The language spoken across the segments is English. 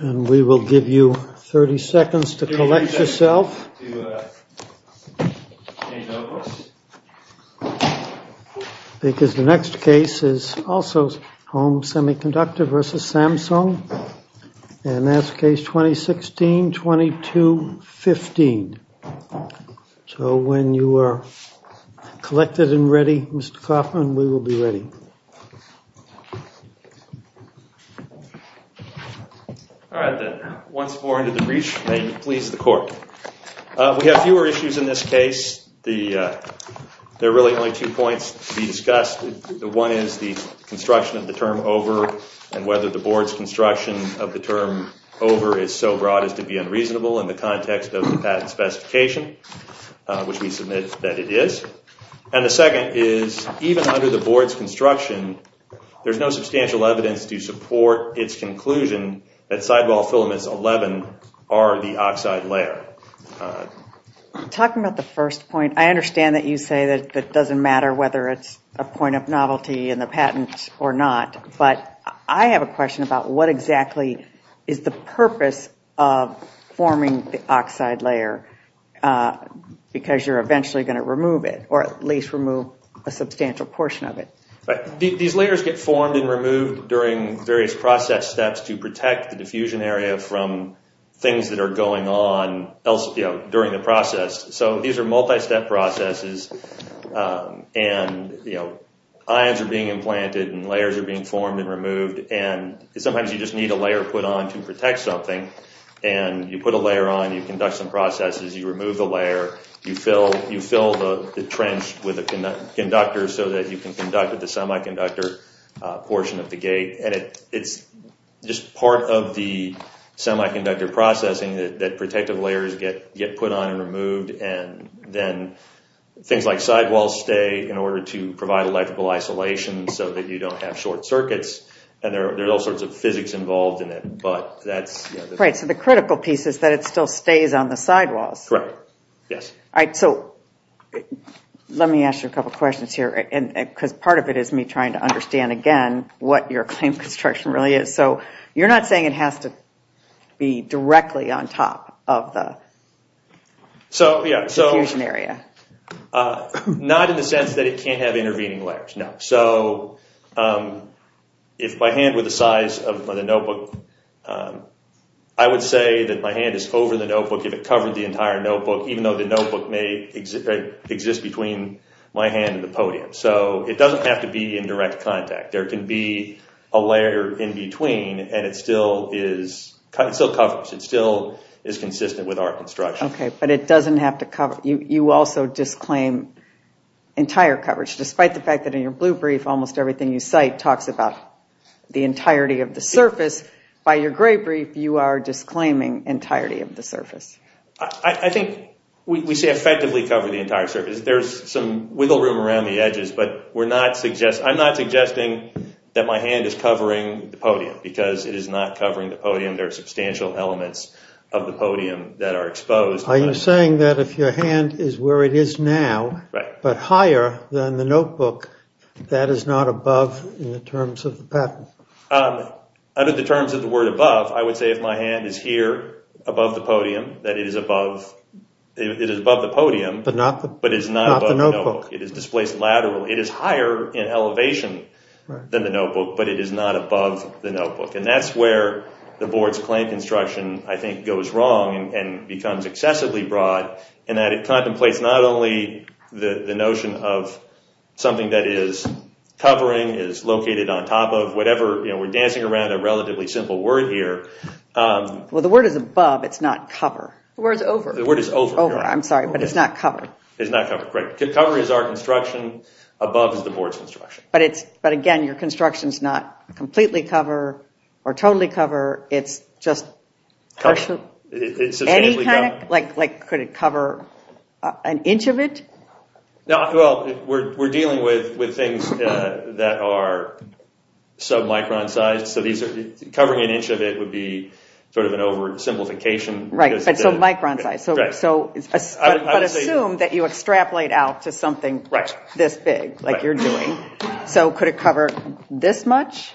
We will give you 30 seconds to collect yourself because the next case is also Home Semiconductor v. Samsung and that's Case 2016-22-15. So when you are collected and ready, Mr. Coffman, we will be ready. Once more into the brief, may you please the court. We have fewer issues in this case. There are really only two points to be discussed. One is the construction of the term over and whether the board's construction of the term over is so broad as to be unreasonable in the context of the patent specification, which we submit that it is. And the second is even under the board's construction, there is no substantial evidence to support its conclusion that sidewall filaments 11 are the oxide layer. Talking about the first point, I understand that you say that it doesn't matter whether it's a point of novelty in the patent or not, but I have a question about what exactly is the purpose of forming the oxide layer because you are eventually going to remove it or at least remove a substantial portion of it. These layers get formed and removed during various process steps to protect the diffusion area from things that are going on during the process. These are multi-step processes and ions are being implanted and layers are being formed and removed. Sometimes you just need a layer put on to protect something and you put a layer on, you conduct some processes, you remove the layer, you fill the trench with a conductor so that you can conduct the semiconductor portion of the gate. It's just part of the semiconductor processing that protective layers get put on and removed. Then things like sidewalls stay in order to provide electrical isolation so that you don't have short circuits. There are all sorts of physics involved in it. The critical piece is that it still stays on the sidewalls. Correct. Let me ask you a couple of questions here. Part of it is me trying to understand again what your claim of construction really is. You're not saying it has to be directly on top of the diffusion area? Not in the sense that it can't have intervening layers, no. If my hand were the size of the notebook, I would say that my hand is over the notebook if it covered the entire notebook, even though the notebook may exist between my hand and the podium. It doesn't have to be in direct contact. There can be a layer in between and it still covers. It still is consistent with our construction. But you also disclaim entire coverage. Despite the fact that in your blue brief almost everything you cite talks about the entirety of the surface, by your gray brief you are disclaiming entirety of the surface. I think we say effectively cover the entire surface. There's some wiggle room around the edges. I'm not suggesting that my hand is covering the podium because it is not covering the podium. There are substantial elements of the podium that are exposed. Are you saying that if your hand is where it is now, but higher than the notebook, that is not above in the terms of the pattern? Under the terms of the word above, I would say if my hand is here above the podium, that it is above the podium, but is not above the notebook. It is displaced laterally. It is higher in elevation than the notebook, but it is not above the notebook. That's where the board's claim construction, I think, goes wrong and becomes excessively broad. It contemplates not only the notion of something that is covering, is located on top of, we're dancing around a relatively simple word here. The word is above, it's not cover. The word is over. The word is over. I'm sorry, but it's not cover. It's not cover, correct. Cover is our construction, above is the board's construction. But again, your construction is not completely cover or totally cover. It's just any kind of, like could it cover an inch of it? We're dealing with things that are sub-micron sized. Covering an inch of it would be sort of an oversimplification. Right, but it's a micron size. But assume that you extrapolate out to something this big, like you're doing. So could it cover this much?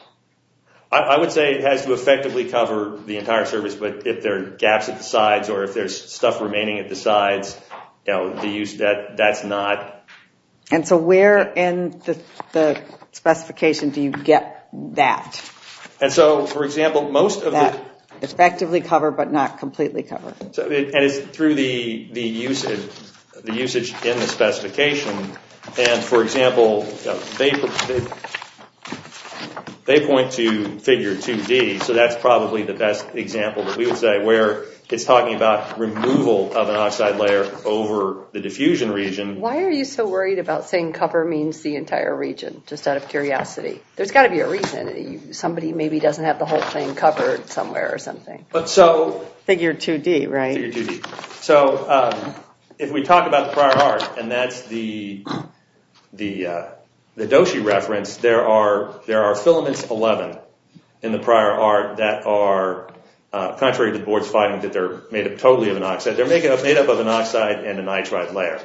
I would say it has to effectively cover the entire service, but if there are gaps at the sides or if there's stuff remaining at the sides, that's not. And so where in the specification do you get that? And so, for example, most of the- Effectively cover, but not completely cover. And it's through the usage in the specification. And, for example, they point to figure 2D, so that's probably the best example that we would say, where it's talking about removal of an oxide layer over the diffusion region. Why are you so worried about saying cover means the entire region, just out of curiosity? There's got to be a reason. Somebody maybe doesn't have the whole thing covered somewhere or something. Figure 2D, right? Figure 2D. So if we talk about the prior art, and that's the Doshi reference, there are filaments 11 in the prior art that are, contrary to the board's finding that they're made up totally of an oxide, they're made up of an oxide and a nitride layer.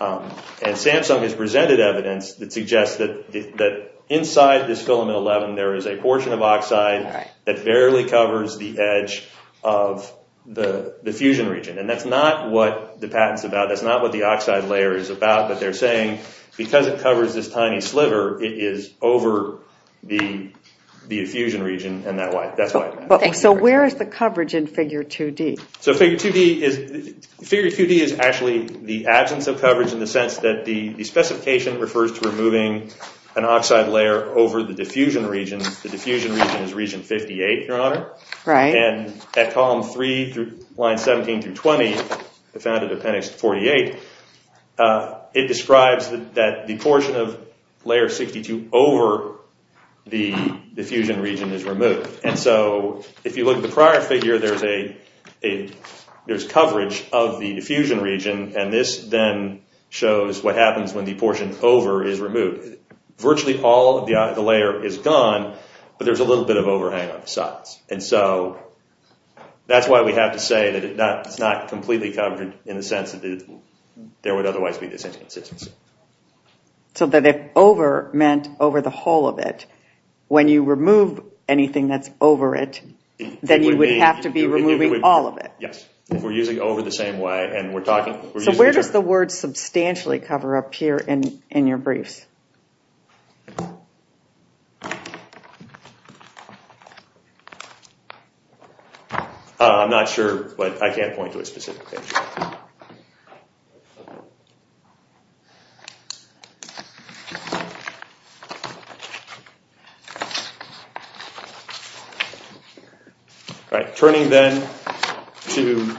And Samsung has presented evidence that suggests that inside this filament 11 there is a portion of oxide that barely covers the edge of the diffusion region. And that's not what the patent's about. That's not what the oxide layer is about. But they're saying because it covers this tiny sliver, it is over the diffusion region, and that's why. So where is the coverage in figure 2D? So figure 2D is actually the absence of coverage in the sense that the specification refers to removing an oxide layer over the diffusion region. The diffusion region is region 58, Your Honor. Right. And at column 3, lines 17 through 20, the found at appendix 48, it describes that the portion of layer 62 over the diffusion region is removed. And so if you look at the prior figure, there's coverage of the diffusion region, and this then shows what happens when the portion over is removed. Virtually all of the layer is gone, but there's a little bit of overhang on the sides. And so that's why we have to say that it's not completely covered in the sense that there would otherwise be this inconsistency. So that if over meant over the whole of it, when you remove anything that's over it, then you would have to be removing all of it. Yes. If we're using over the same way and we're talking. So where does the word substantially cover up here in your briefs? I'm not sure, but I can't point to a specific page. All right. Turning then to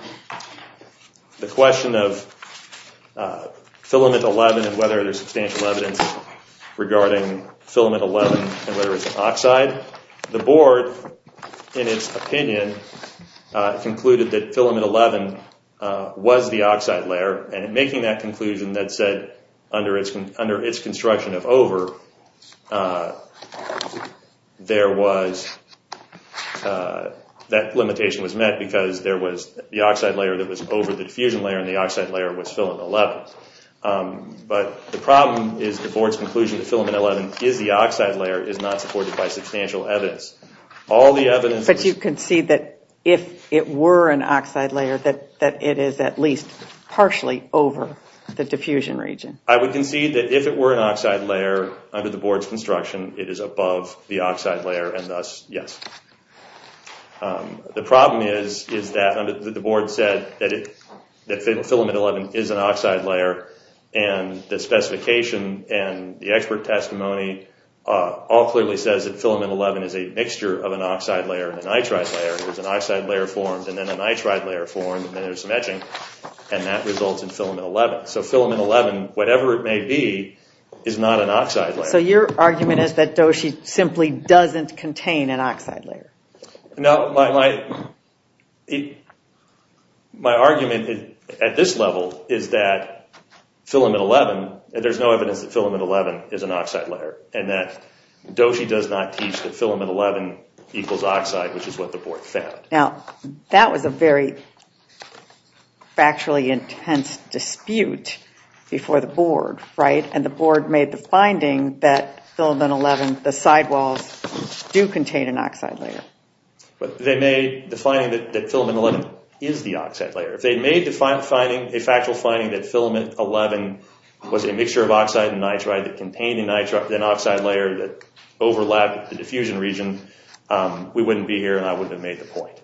the question of filament 11 and whether there's substantial evidence regarding filament 11 and whether it's oxide, the board, in its opinion, concluded that filament 11 was the oxide layer, and in making that conclusion that said under its construction of over, that limitation was met because there was the oxide layer that was over the diffusion layer and the oxide layer was filament 11. But the problem is the board's conclusion that filament 11 is the oxide layer is not supported by substantial evidence. But you concede that if it were an oxide layer, that it is at least partially over the diffusion region. I would concede that if it were an oxide layer under the board's construction, it is above the oxide layer and thus yes. The problem is that the board said that filament 11 is an oxide layer and the specification and the expert testimony all clearly says that filament 11 is a mixture of an oxide layer and an nitride layer. There's an oxide layer formed and then a nitride layer formed and then there's some etching and that results in filament 11. So filament 11, whatever it may be, is not an oxide layer. So your argument is that Doshi simply doesn't contain an oxide layer? No. My argument at this level is that filament 11, there's no evidence that filament 11 is an oxide layer and that Doshi does not teach that filament 11 equals oxide, which is what the board found. Now, that was a very factually intense dispute before the board, right? And the board made the finding that filament 11, the sidewalls do contain an oxide layer. But they made the finding that filament 11 is the oxide layer. If they made a factual finding that filament 11 was a mixture of oxide and nitride that contained an oxide layer that overlapped the diffusion region, we wouldn't be here and I wouldn't have made the point.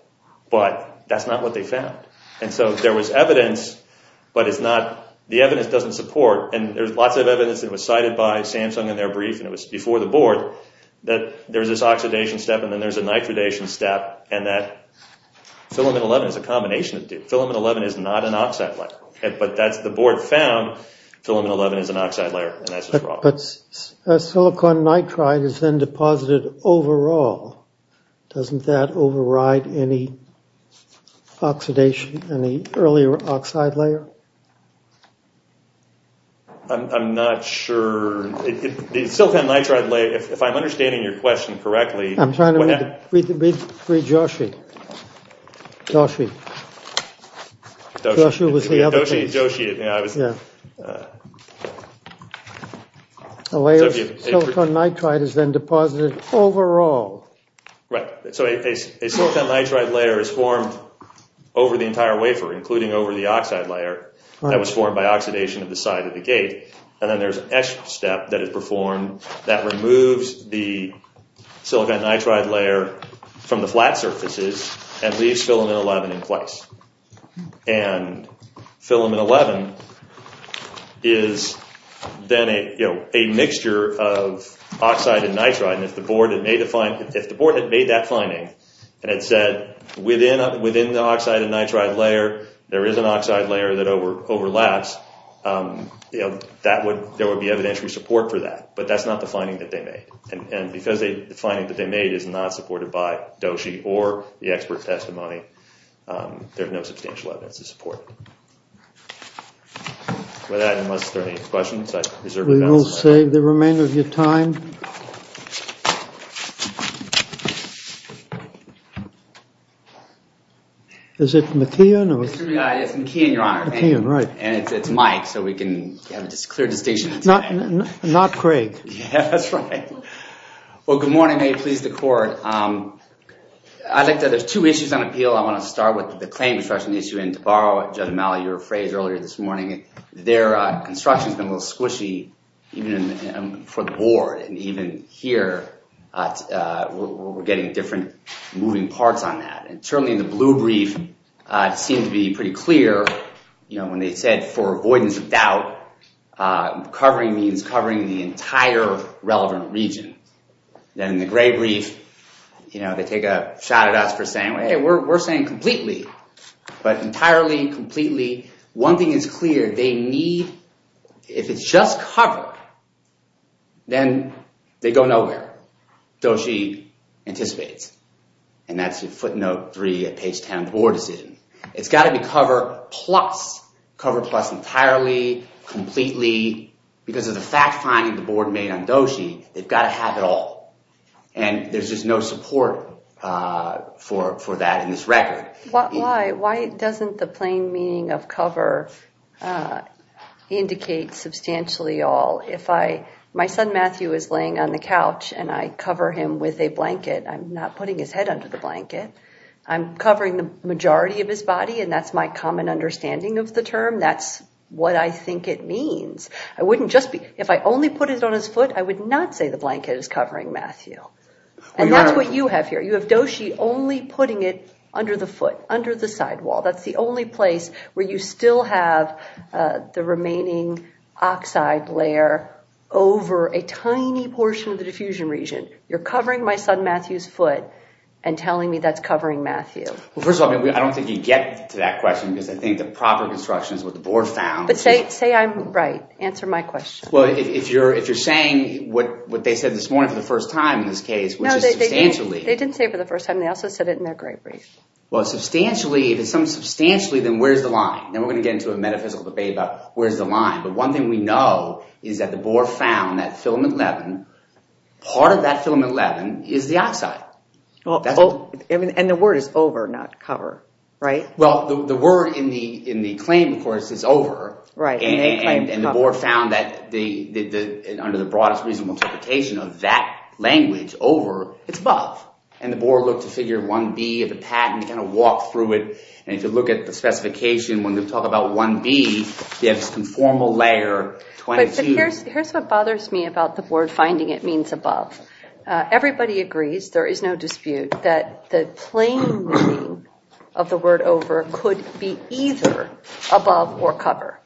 But that's not what they found. And so there was evidence, but the evidence doesn't support, and there's lots of evidence that was cited by Samsung in their brief and it was before the board, that there's this oxidation step and then there's a nitridation step and that filament 11 is a combination of the two. Filament 11 is not an oxide layer. But that's what the board found, filament 11 is an oxide layer. But silicon nitride is then deposited overall. Doesn't that override any oxidation, any earlier oxide layer? I'm not sure. The silicon nitride layer, if I'm understanding your question correctly. I'm trying to read Doshi. Doshi. Doshi was the other case. Yeah, Doshi. A layer of silicon nitride is then deposited overall. Right. So a silicon nitride layer is formed over the entire wafer, including over the oxide layer that was formed by oxidation of the side of the gate. And then there's an etch step that is performed that removes the silicon nitride layer from the flat surfaces and leaves filament 11 in place. And filament 11 is then a mixture of oxide and nitride. And if the board had made that finding and had said, within the oxide and nitride layer there is an oxide layer that overlaps, there would be evidentiary support for that. But that's not the finding that they made. And because the finding that they made is not supported by Doshi or the expert testimony, there's no substantial evidence to support it. With that, unless there are any questions, I reserve the balance. We will save the remainder of your time. Is it McKeon? Yes, McKeon, Your Honor. McKeon, right. And it's Mike, so we can have a clear distinction. Not Craig. Yeah, that's right. Well, good morning. May it please the court. I'd like to add there's two issues on appeal. I want to start with the claim construction issue. And to borrow Judge O'Malley, your phrase earlier this morning, their construction has been a little squishy for the board. And even here, we're getting different moving parts on that. And certainly in the blue brief, it seemed to be pretty clear. When they said for avoidance of doubt, covering means covering the entire relevant region. Then in the gray brief, they take a shot at us for saying, hey, we're saying completely. But entirely, completely, one thing is clear. They need, if it's just cover, then they go nowhere. Doshi anticipates. And that's footnote 3 at page 10 of the board decision. It's got to be cover plus, cover plus entirely, completely. Because of the fact finding the board made on doshi, they've got to have it all. And there's just no support for that in this record. Why doesn't the plain meaning of cover indicate substantially all? If my son Matthew is laying on the couch and I cover him with a blanket, I'm not putting his head under the blanket. I'm covering the majority of his body, and that's my common understanding of the term. That's what I think it means. If I only put it on his foot, I would not say the blanket is covering Matthew. And that's what you have here. You have doshi only putting it under the foot, under the sidewall. That's the only place where you still have the remaining oxide layer over a tiny portion of the diffusion region. You're covering my son Matthew's foot and telling me that's covering Matthew. Well, first of all, I don't think you get to that question because I think the proper construction is what the board found. But say I'm right. Answer my question. Well, if you're saying what they said this morning for the first time in this case, which is substantially. No, they didn't say it for the first time. They also said it in their great brief. Well, substantially, if it's something substantially, then where's the line? And we're going to get into a metaphysical debate about where's the line. But one thing we know is that the board found that filament leaven, part of that filament leaven is the oxide. And the word is over, not cover, right? Well, the word in the claim, of course, is over. And the board found that under the broadest reasonable interpretation of that language, over, it's above. And the board looked at figure 1B of the patent and kind of walked through it. And if you look at the specification, when you talk about 1B, you have this conformal layer, 22. But here's what bothers me about the board finding it means above. Everybody agrees, there is no dispute, that the plain meaning of the word over could be either above or cover,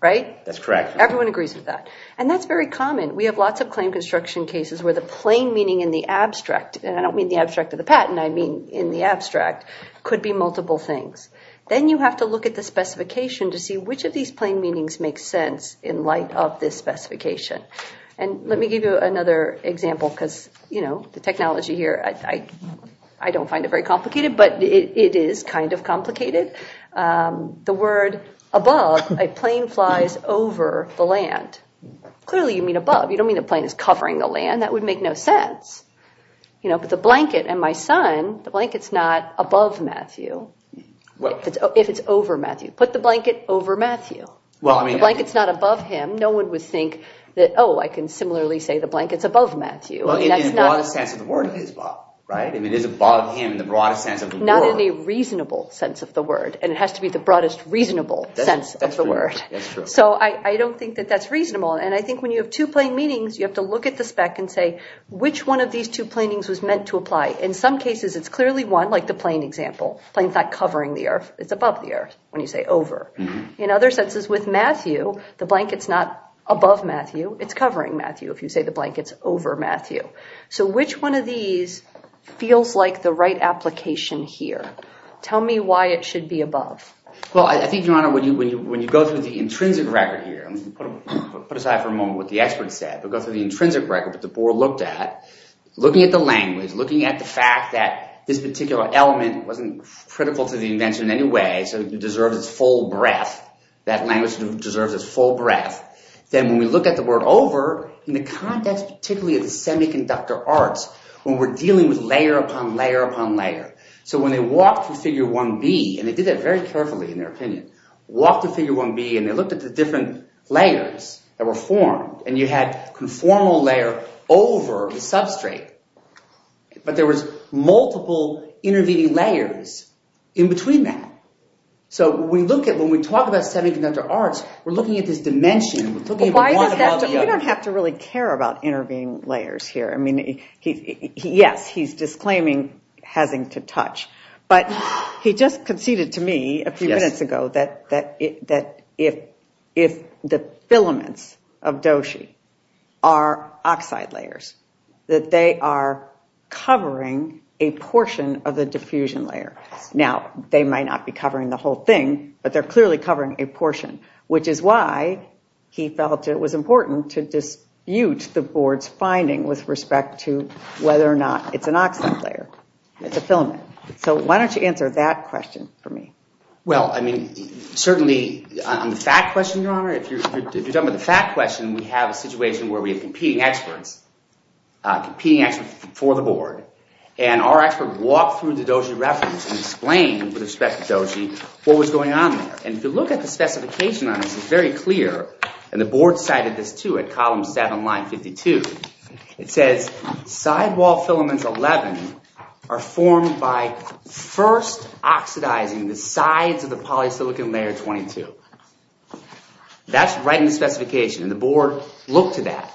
right? That's correct. Everyone agrees with that. And that's very common. We have lots of claim construction cases where the plain meaning in the abstract, and I don't mean the abstract of the patent, I mean in the abstract, could be multiple things. Then you have to look at the specification to see which of these plain meanings make sense in light of this specification. And let me give you another example because, you know, the technology here, I don't find it very complicated, but it is kind of complicated. The word above, a plane flies over the land. Clearly, you mean above. You don't mean the plane is covering the land. And that would make no sense. You know, but the blanket and my son, the blanket's not above Matthew, if it's over Matthew. Put the blanket over Matthew. The blanket's not above him. No one would think that, oh, I can similarly say the blanket's above Matthew. Well, in the broadest sense of the word, it is above, right? I mean, it is above him in the broadest sense of the word. Not in the reasonable sense of the word. And it has to be the broadest reasonable sense of the word. That's true. So I don't think that that's reasonable. And I think when you have two plane meanings, you have to look at the spec and say which one of these two plane meanings was meant to apply. In some cases, it's clearly one, like the plane example. The plane's not covering the earth. It's above the earth when you say over. In other senses, with Matthew, the blanket's not above Matthew. It's covering Matthew if you say the blanket's over Matthew. So which one of these feels like the right application here? Tell me why it should be above. Well, I think, Your Honor, when you go through the intrinsic record here, put aside for a moment what the expert said. But go through the intrinsic record that the board looked at, looking at the language, looking at the fact that this particular element wasn't critical to the invention in any way. So it deserves its full breadth. That language deserves its full breadth. Then when we look at the word over, in the context particularly of the semiconductor arts, when we're dealing with layer upon layer upon layer. So when they walked through figure 1B, and they did that very carefully in their opinion, walked through figure 1B, and they looked at the different layers that were formed. And you had conformal layer over the substrate. But there was multiple intervening layers in between that. So when we talk about semiconductor arts, we're looking at this dimension. We're looking at one above the other. We don't have to really care about intervening layers here. I mean, yes, he's disclaiming having to touch. But he just conceded to me a few minutes ago that if the filaments of Doshi are oxide layers, that they are covering a portion of the diffusion layer. Now, they might not be covering the whole thing, but they're clearly covering a portion. Which is why he felt it was important to dispute the board's finding with respect to whether or not it's an oxide layer. It's a filament. So why don't you answer that question for me? Well, I mean, certainly on the fact question, Your Honor, if you're talking about the fact question, we have a situation where we have competing experts, competing experts for the board. And our expert walked through the Doshi reference and explained with respect to Doshi what was going on there. And if you look at the specification on this, it's very clear. And the board cited this, too, at column 7, line 52. It says sidewall filaments 11 are formed by first oxidizing the sides of the polysilicon layer 22. That's right in the specification. And the board looked to that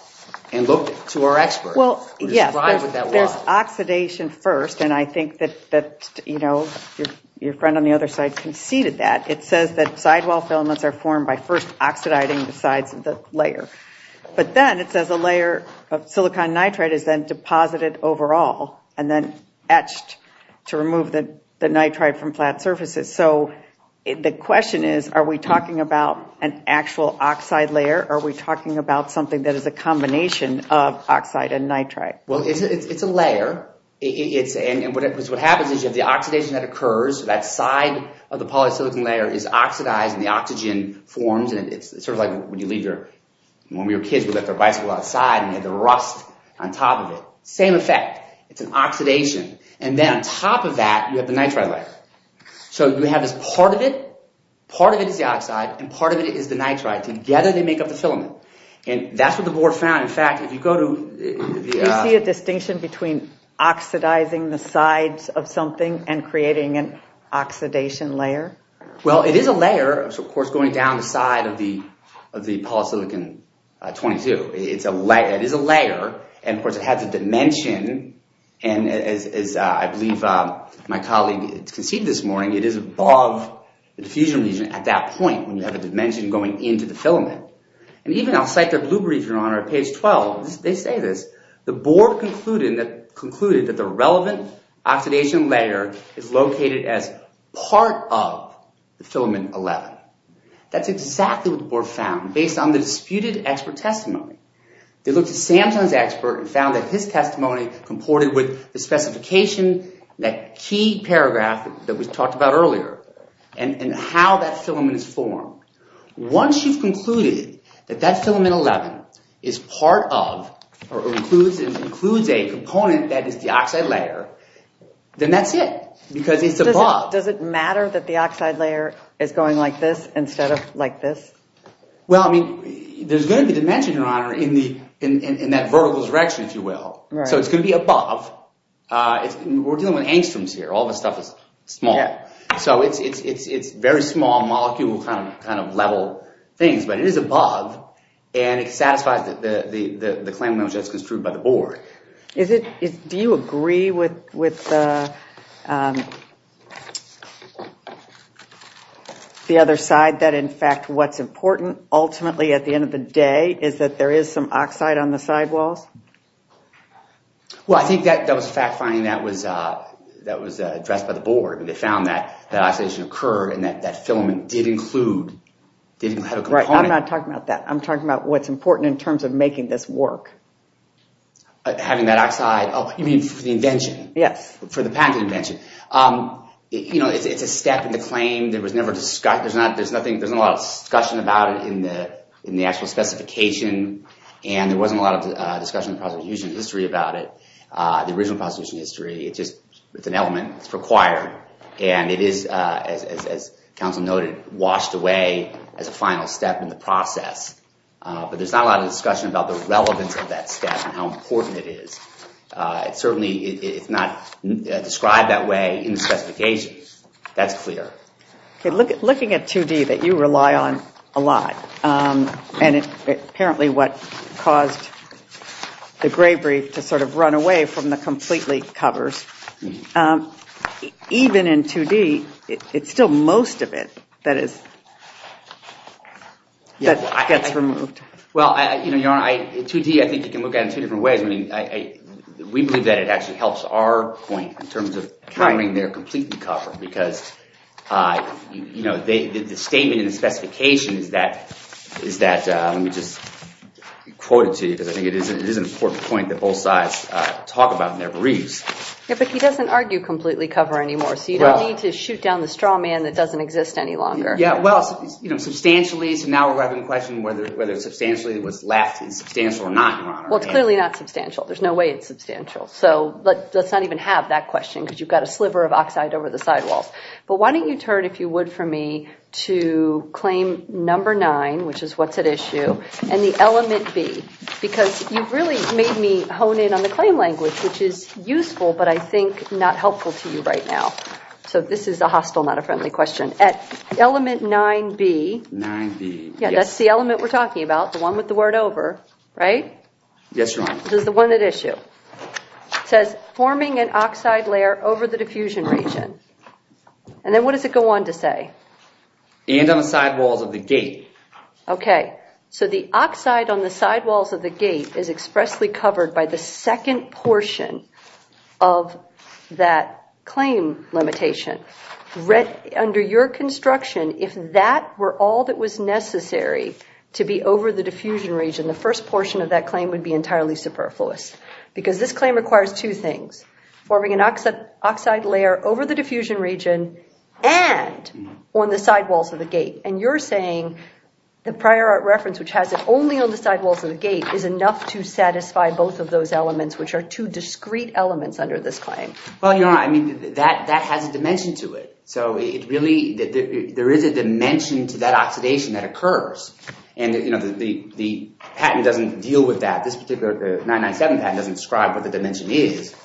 and looked to our expert. Well, yes, there's oxidation first. And I think that, you know, your friend on the other side conceded that. It says that sidewall filaments are formed by first oxidizing the sides of the layer. But then it says a layer of silicon nitride is then deposited overall and then etched to remove the nitride from flat surfaces. So the question is, are we talking about an actual oxide layer? Are we talking about something that is a combination of oxide and nitride? Well, it's a layer. And what happens is you have the oxidation that occurs. That side of the polysilicon layer is oxidized, and the oxygen forms. And it's sort of like when you leave your – when your kids would let their bicycle outside and you had the rust on top of it. Same effect. It's an oxidation. And then on top of that, you have the nitride layer. So you have this part of it. Part of it is the oxide, and part of it is the nitride. Together, they make up the filament. And that's what the board found. Is there a distinction between oxidizing the sides of something and creating an oxidation layer? Well, it is a layer, of course, going down the side of the polysilicon 22. It is a layer, and, of course, it has a dimension. And as I believe my colleague conceded this morning, it is above the diffusion region at that point when you have a dimension going into the filament. And even outside the blue region on our page 12, they say this. The board concluded that the relevant oxidation layer is located as part of the filament 11. That's exactly what the board found based on the disputed expert testimony. They looked at Samson's expert and found that his testimony comported with the specification, that key paragraph that we talked about earlier, and how that filament is formed. Once you've concluded that that filament 11 is part of or includes a component that is the oxide layer, then that's it because it's above. Does it matter that the oxide layer is going like this instead of like this? Well, I mean, there's going to be dimension, Your Honor, in that vertical direction, if you will. So it's going to be above. We're dealing with angstroms here. All this stuff is small. So it's very small molecule kind of level things, but it is above, and it satisfies the claim that was just construed by the board. Do you agree with the other side that in fact what's important ultimately at the end of the day is that there is some oxide on the sidewalls? Well, I think that was a fact finding that was addressed by the board. They found that that oxidation occurred and that that filament did include, did have a component. I'm not talking about that. I'm talking about what's important in terms of making this work. Having that oxide. Oh, you mean for the invention? Yes. For the patent invention. You know, it's a step in the claim. There's not a lot of discussion about it in the actual specification. And there wasn't a lot of discussion in the prosecution history about it, the original prosecution history. It's just an element. It's required. And it is, as counsel noted, washed away as a final step in the process. But there's not a lot of discussion about the relevance of that step and how important it is. Certainly, it's not described that way in the specifications. That's clear. Okay, looking at 2D that you rely on a lot, and apparently what caused the gray brief to sort of run away from the complete leak covers, even in 2D, it's still most of it that gets removed. Well, you know, Your Honor, 2D I think you can look at it in two different ways. I mean, we believe that it actually helps our point in terms of having their completely covered. Because, you know, the statement in the specification is that, let me just quote it to you, because I think it is an important point that both sides talk about in their briefs. Yeah, but he doesn't argue completely cover anymore. So you don't need to shoot down the straw man that doesn't exist any longer. Yeah, well, you know, substantially, so now we're having a question whether substantially was left is substantial or not, Your Honor. Well, it's clearly not substantial. There's no way it's substantial. So let's not even have that question, because you've got a sliver of oxide over the sidewalls. But why don't you turn, if you would for me, to claim number nine, which is what's at issue, and the element B. Because you've really made me hone in on the claim language, which is useful, but I think not helpful to you right now. So this is a hostile, not a friendly question. At element 9B. 9B. Yeah, that's the element we're talking about, the one with the word over, right? Yes, Your Honor. This is the one at issue. It says, forming an oxide layer over the diffusion region. And then what does it go on to say? And on the sidewalls of the gate. Okay, so the oxide on the sidewalls of the gate is expressly covered by the second portion of that claim limitation. Under your construction, if that were all that was necessary to be over the diffusion region, the first portion of that claim would be entirely superfluous. Because this claim requires two things. Forming an oxide layer over the diffusion region and on the sidewalls of the gate. And you're saying the prior art reference, which has it only on the sidewalls of the gate, is enough to satisfy both of those elements, which are two discrete elements under this claim. Well, Your Honor, I mean, that has a dimension to it. So there is a dimension to that oxidation that occurs. And the patent doesn't deal with that. This particular 997 patent doesn't describe what the dimension is.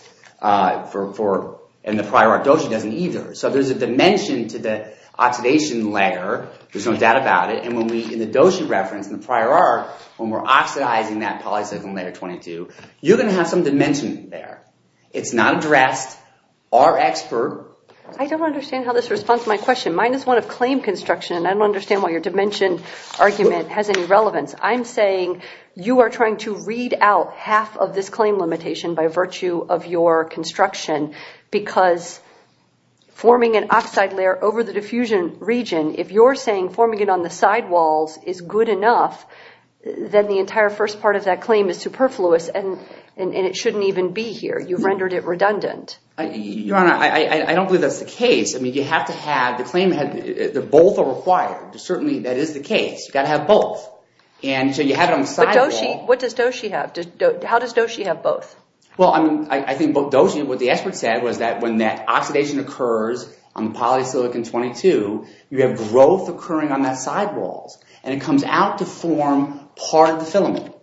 And the prior art dosha doesn't either. So there's a dimension to the oxidation layer. There's no doubt about it. And in the dosha reference, in the prior art, when we're oxidizing that polycyclic layer 22, you're going to have some dimension there. It's not addressed. Our expert. I don't understand how this responds to my question. Mine is one of claim construction, and I don't understand why your dimension argument has any relevance. I'm saying you are trying to read out half of this claim limitation by virtue of your construction because forming an oxide layer over the diffusion region, if you're saying forming it on the sidewalls is good enough, then the entire first part of that claim is superfluous, and it shouldn't even be here. You've rendered it redundant. Your Honor, I don't believe that's the case. I mean, you have to have the claim that both are required. Certainly, that is the case. You've got to have both. And so you have it on the sidewall. What does dosha have? How does dosha have both? Well, I mean, I think what the expert said was that when that oxidation occurs on the polysilicon 22, you have growth occurring on that sidewall. And it comes out to form part of the filament,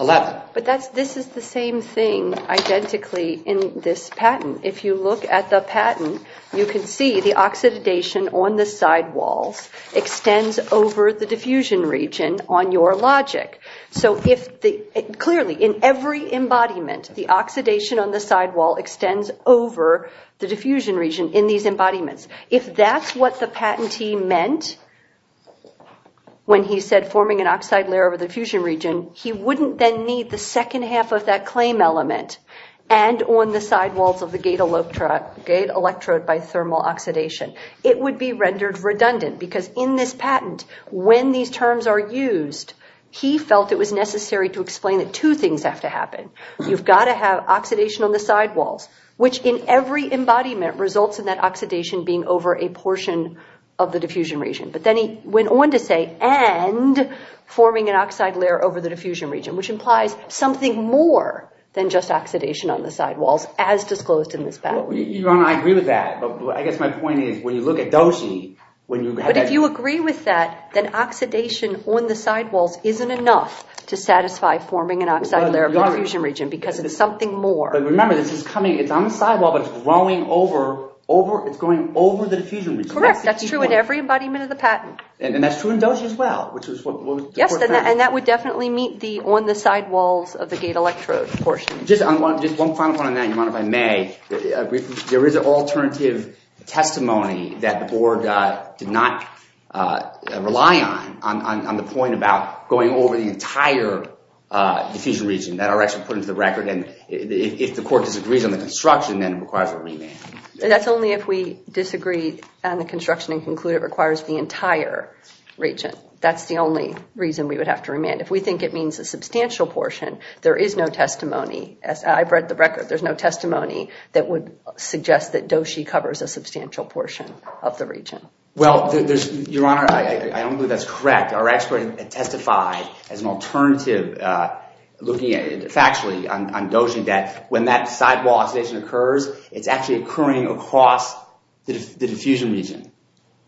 11. But this is the same thing identically in this patent. If you look at the patent, you can see the oxidation on the sidewalls extends over the diffusion region on your logic. So clearly, in every embodiment, the oxidation on the sidewall extends over the diffusion region in these embodiments. If that's what the patentee meant when he said forming an oxide layer over the diffusion region, he wouldn't then need the second half of that claim element and on the sidewalls of the gate electrode by thermal oxidation. It would be rendered redundant because in this patent, when these terms are used, he felt it was necessary to explain that two things have to happen. You've got to have oxidation on the sidewalls, which in every embodiment results in that oxidation being over a portion of the diffusion region. But then he went on to say and forming an oxide layer over the diffusion region, which implies something more than just oxidation on the sidewalls as disclosed in this patent. I agree with that. I guess my point is when you look at dosha, when you have that… Remember, it's on the sidewall, but it's growing over the diffusion region. Correct. That's true in every embodiment of the patent. And that's true in dosha as well. Yes, and that would definitely meet on the sidewalls of the gate electrode portion. Just one final point on that, if I may. There is an alternative testimony that the board did not rely on, on the point about going over the entire diffusion region that are actually put into the record. And if the court disagrees on the construction, then it requires a remand. That's only if we disagree on the construction and conclude it requires the entire region. That's the only reason we would have to remand. If we think it means a substantial portion, there is no testimony. I've read the record. There's no testimony that would suggest that dosha covers a substantial portion of the region. Well, Your Honor, I don't believe that's correct. Our expert testified as an alternative, looking at it factually on dosha, that when that sidewall oxidation occurs, it's actually occurring across the diffusion region.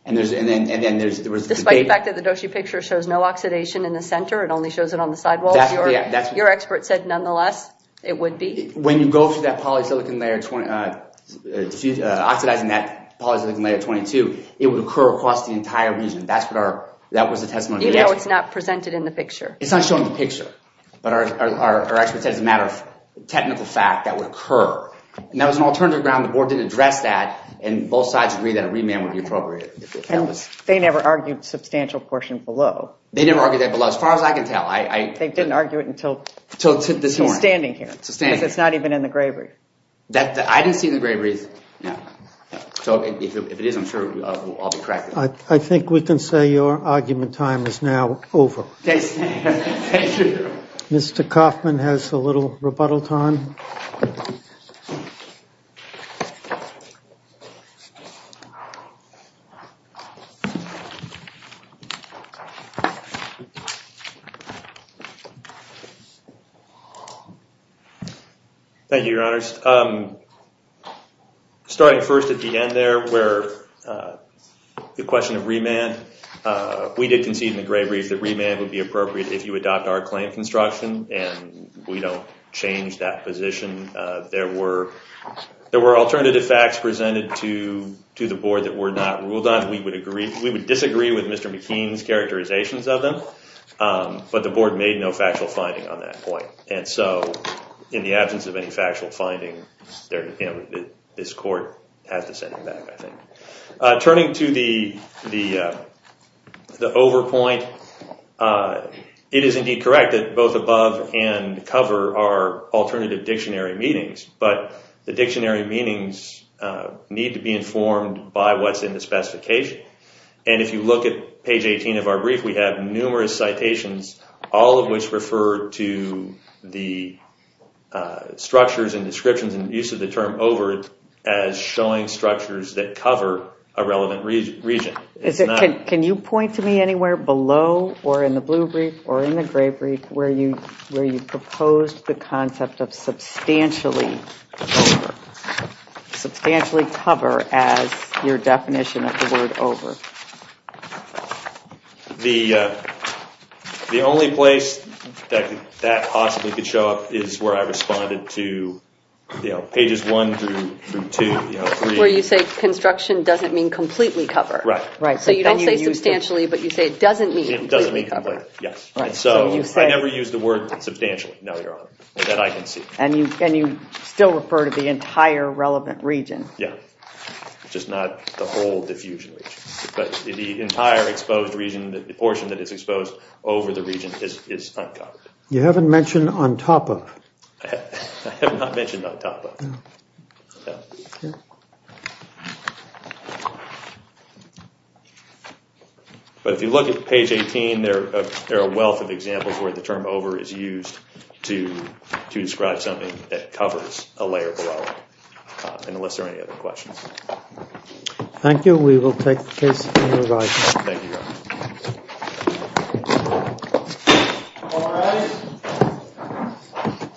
Despite the fact that the dosha picture shows no oxidation in the center, it only shows it on the sidewalls. Your expert said, nonetheless, it would be. When you go through that polysilicon layer, oxidizing that polysilicon layer 22, it would occur across the entire region. That was the testimony. Even though it's not presented in the picture? It's not shown in the picture. But our expert said, as a matter of technical fact, that would occur. And that was an alternative ground. The board didn't address that. And both sides agreed that a remand would be appropriate. They never argued substantial portion below. They never argued that below, as far as I can tell. They didn't argue it until this morning. It's not even in the Grayberry. I didn't see it in the Grayberry. I think we can say your argument time is now over. Mr. Kaufman has a little rebuttal time. Thank you, your honors. Starting first at the end there, where the question of remand, we did concede in the Grayberry that remand would be appropriate if you adopt our claim construction. And we don't change that position. There were alternative facts presented to the board that were not ruled on. We would disagree with Mr. McKean's characterizations of them. But the board made no factual finding on that point. And so, in the absence of any factual finding, this court has to send him back, I think. Turning to the overpoint, it is indeed correct that both above and cover are alternative dictionary meanings. But the dictionary meanings need to be informed by what's in the specification. And if you look at page 18 of our brief, we have numerous citations, all of which refer to the structures and descriptions and use of the term over as showing structures that cover a relevant region. Can you point to me anywhere below, or in the blue brief, or in the gray brief, where you proposed the concept of substantially over. Substantially cover as your definition of the word over. The only place that possibly could show up is where I responded to pages one through two. Where you say construction doesn't mean completely cover. Right. So you don't say substantially, but you say it doesn't mean completely cover. It doesn't mean completely, yes. So I never used the word substantially. No, Your Honor. That I can see. And you still refer to the entire relevant region. Yeah. Just not the whole diffusion region. But the entire exposed region, the portion that is exposed over the region is uncovered. You haven't mentioned on top of. I have not mentioned on top of. No. No. But if you look at page 18, there are a wealth of examples where the term over is used to describe something that covers a layer below. Unless there are any other questions. Thank you. We will take the case in revising. Thank you, Your Honor.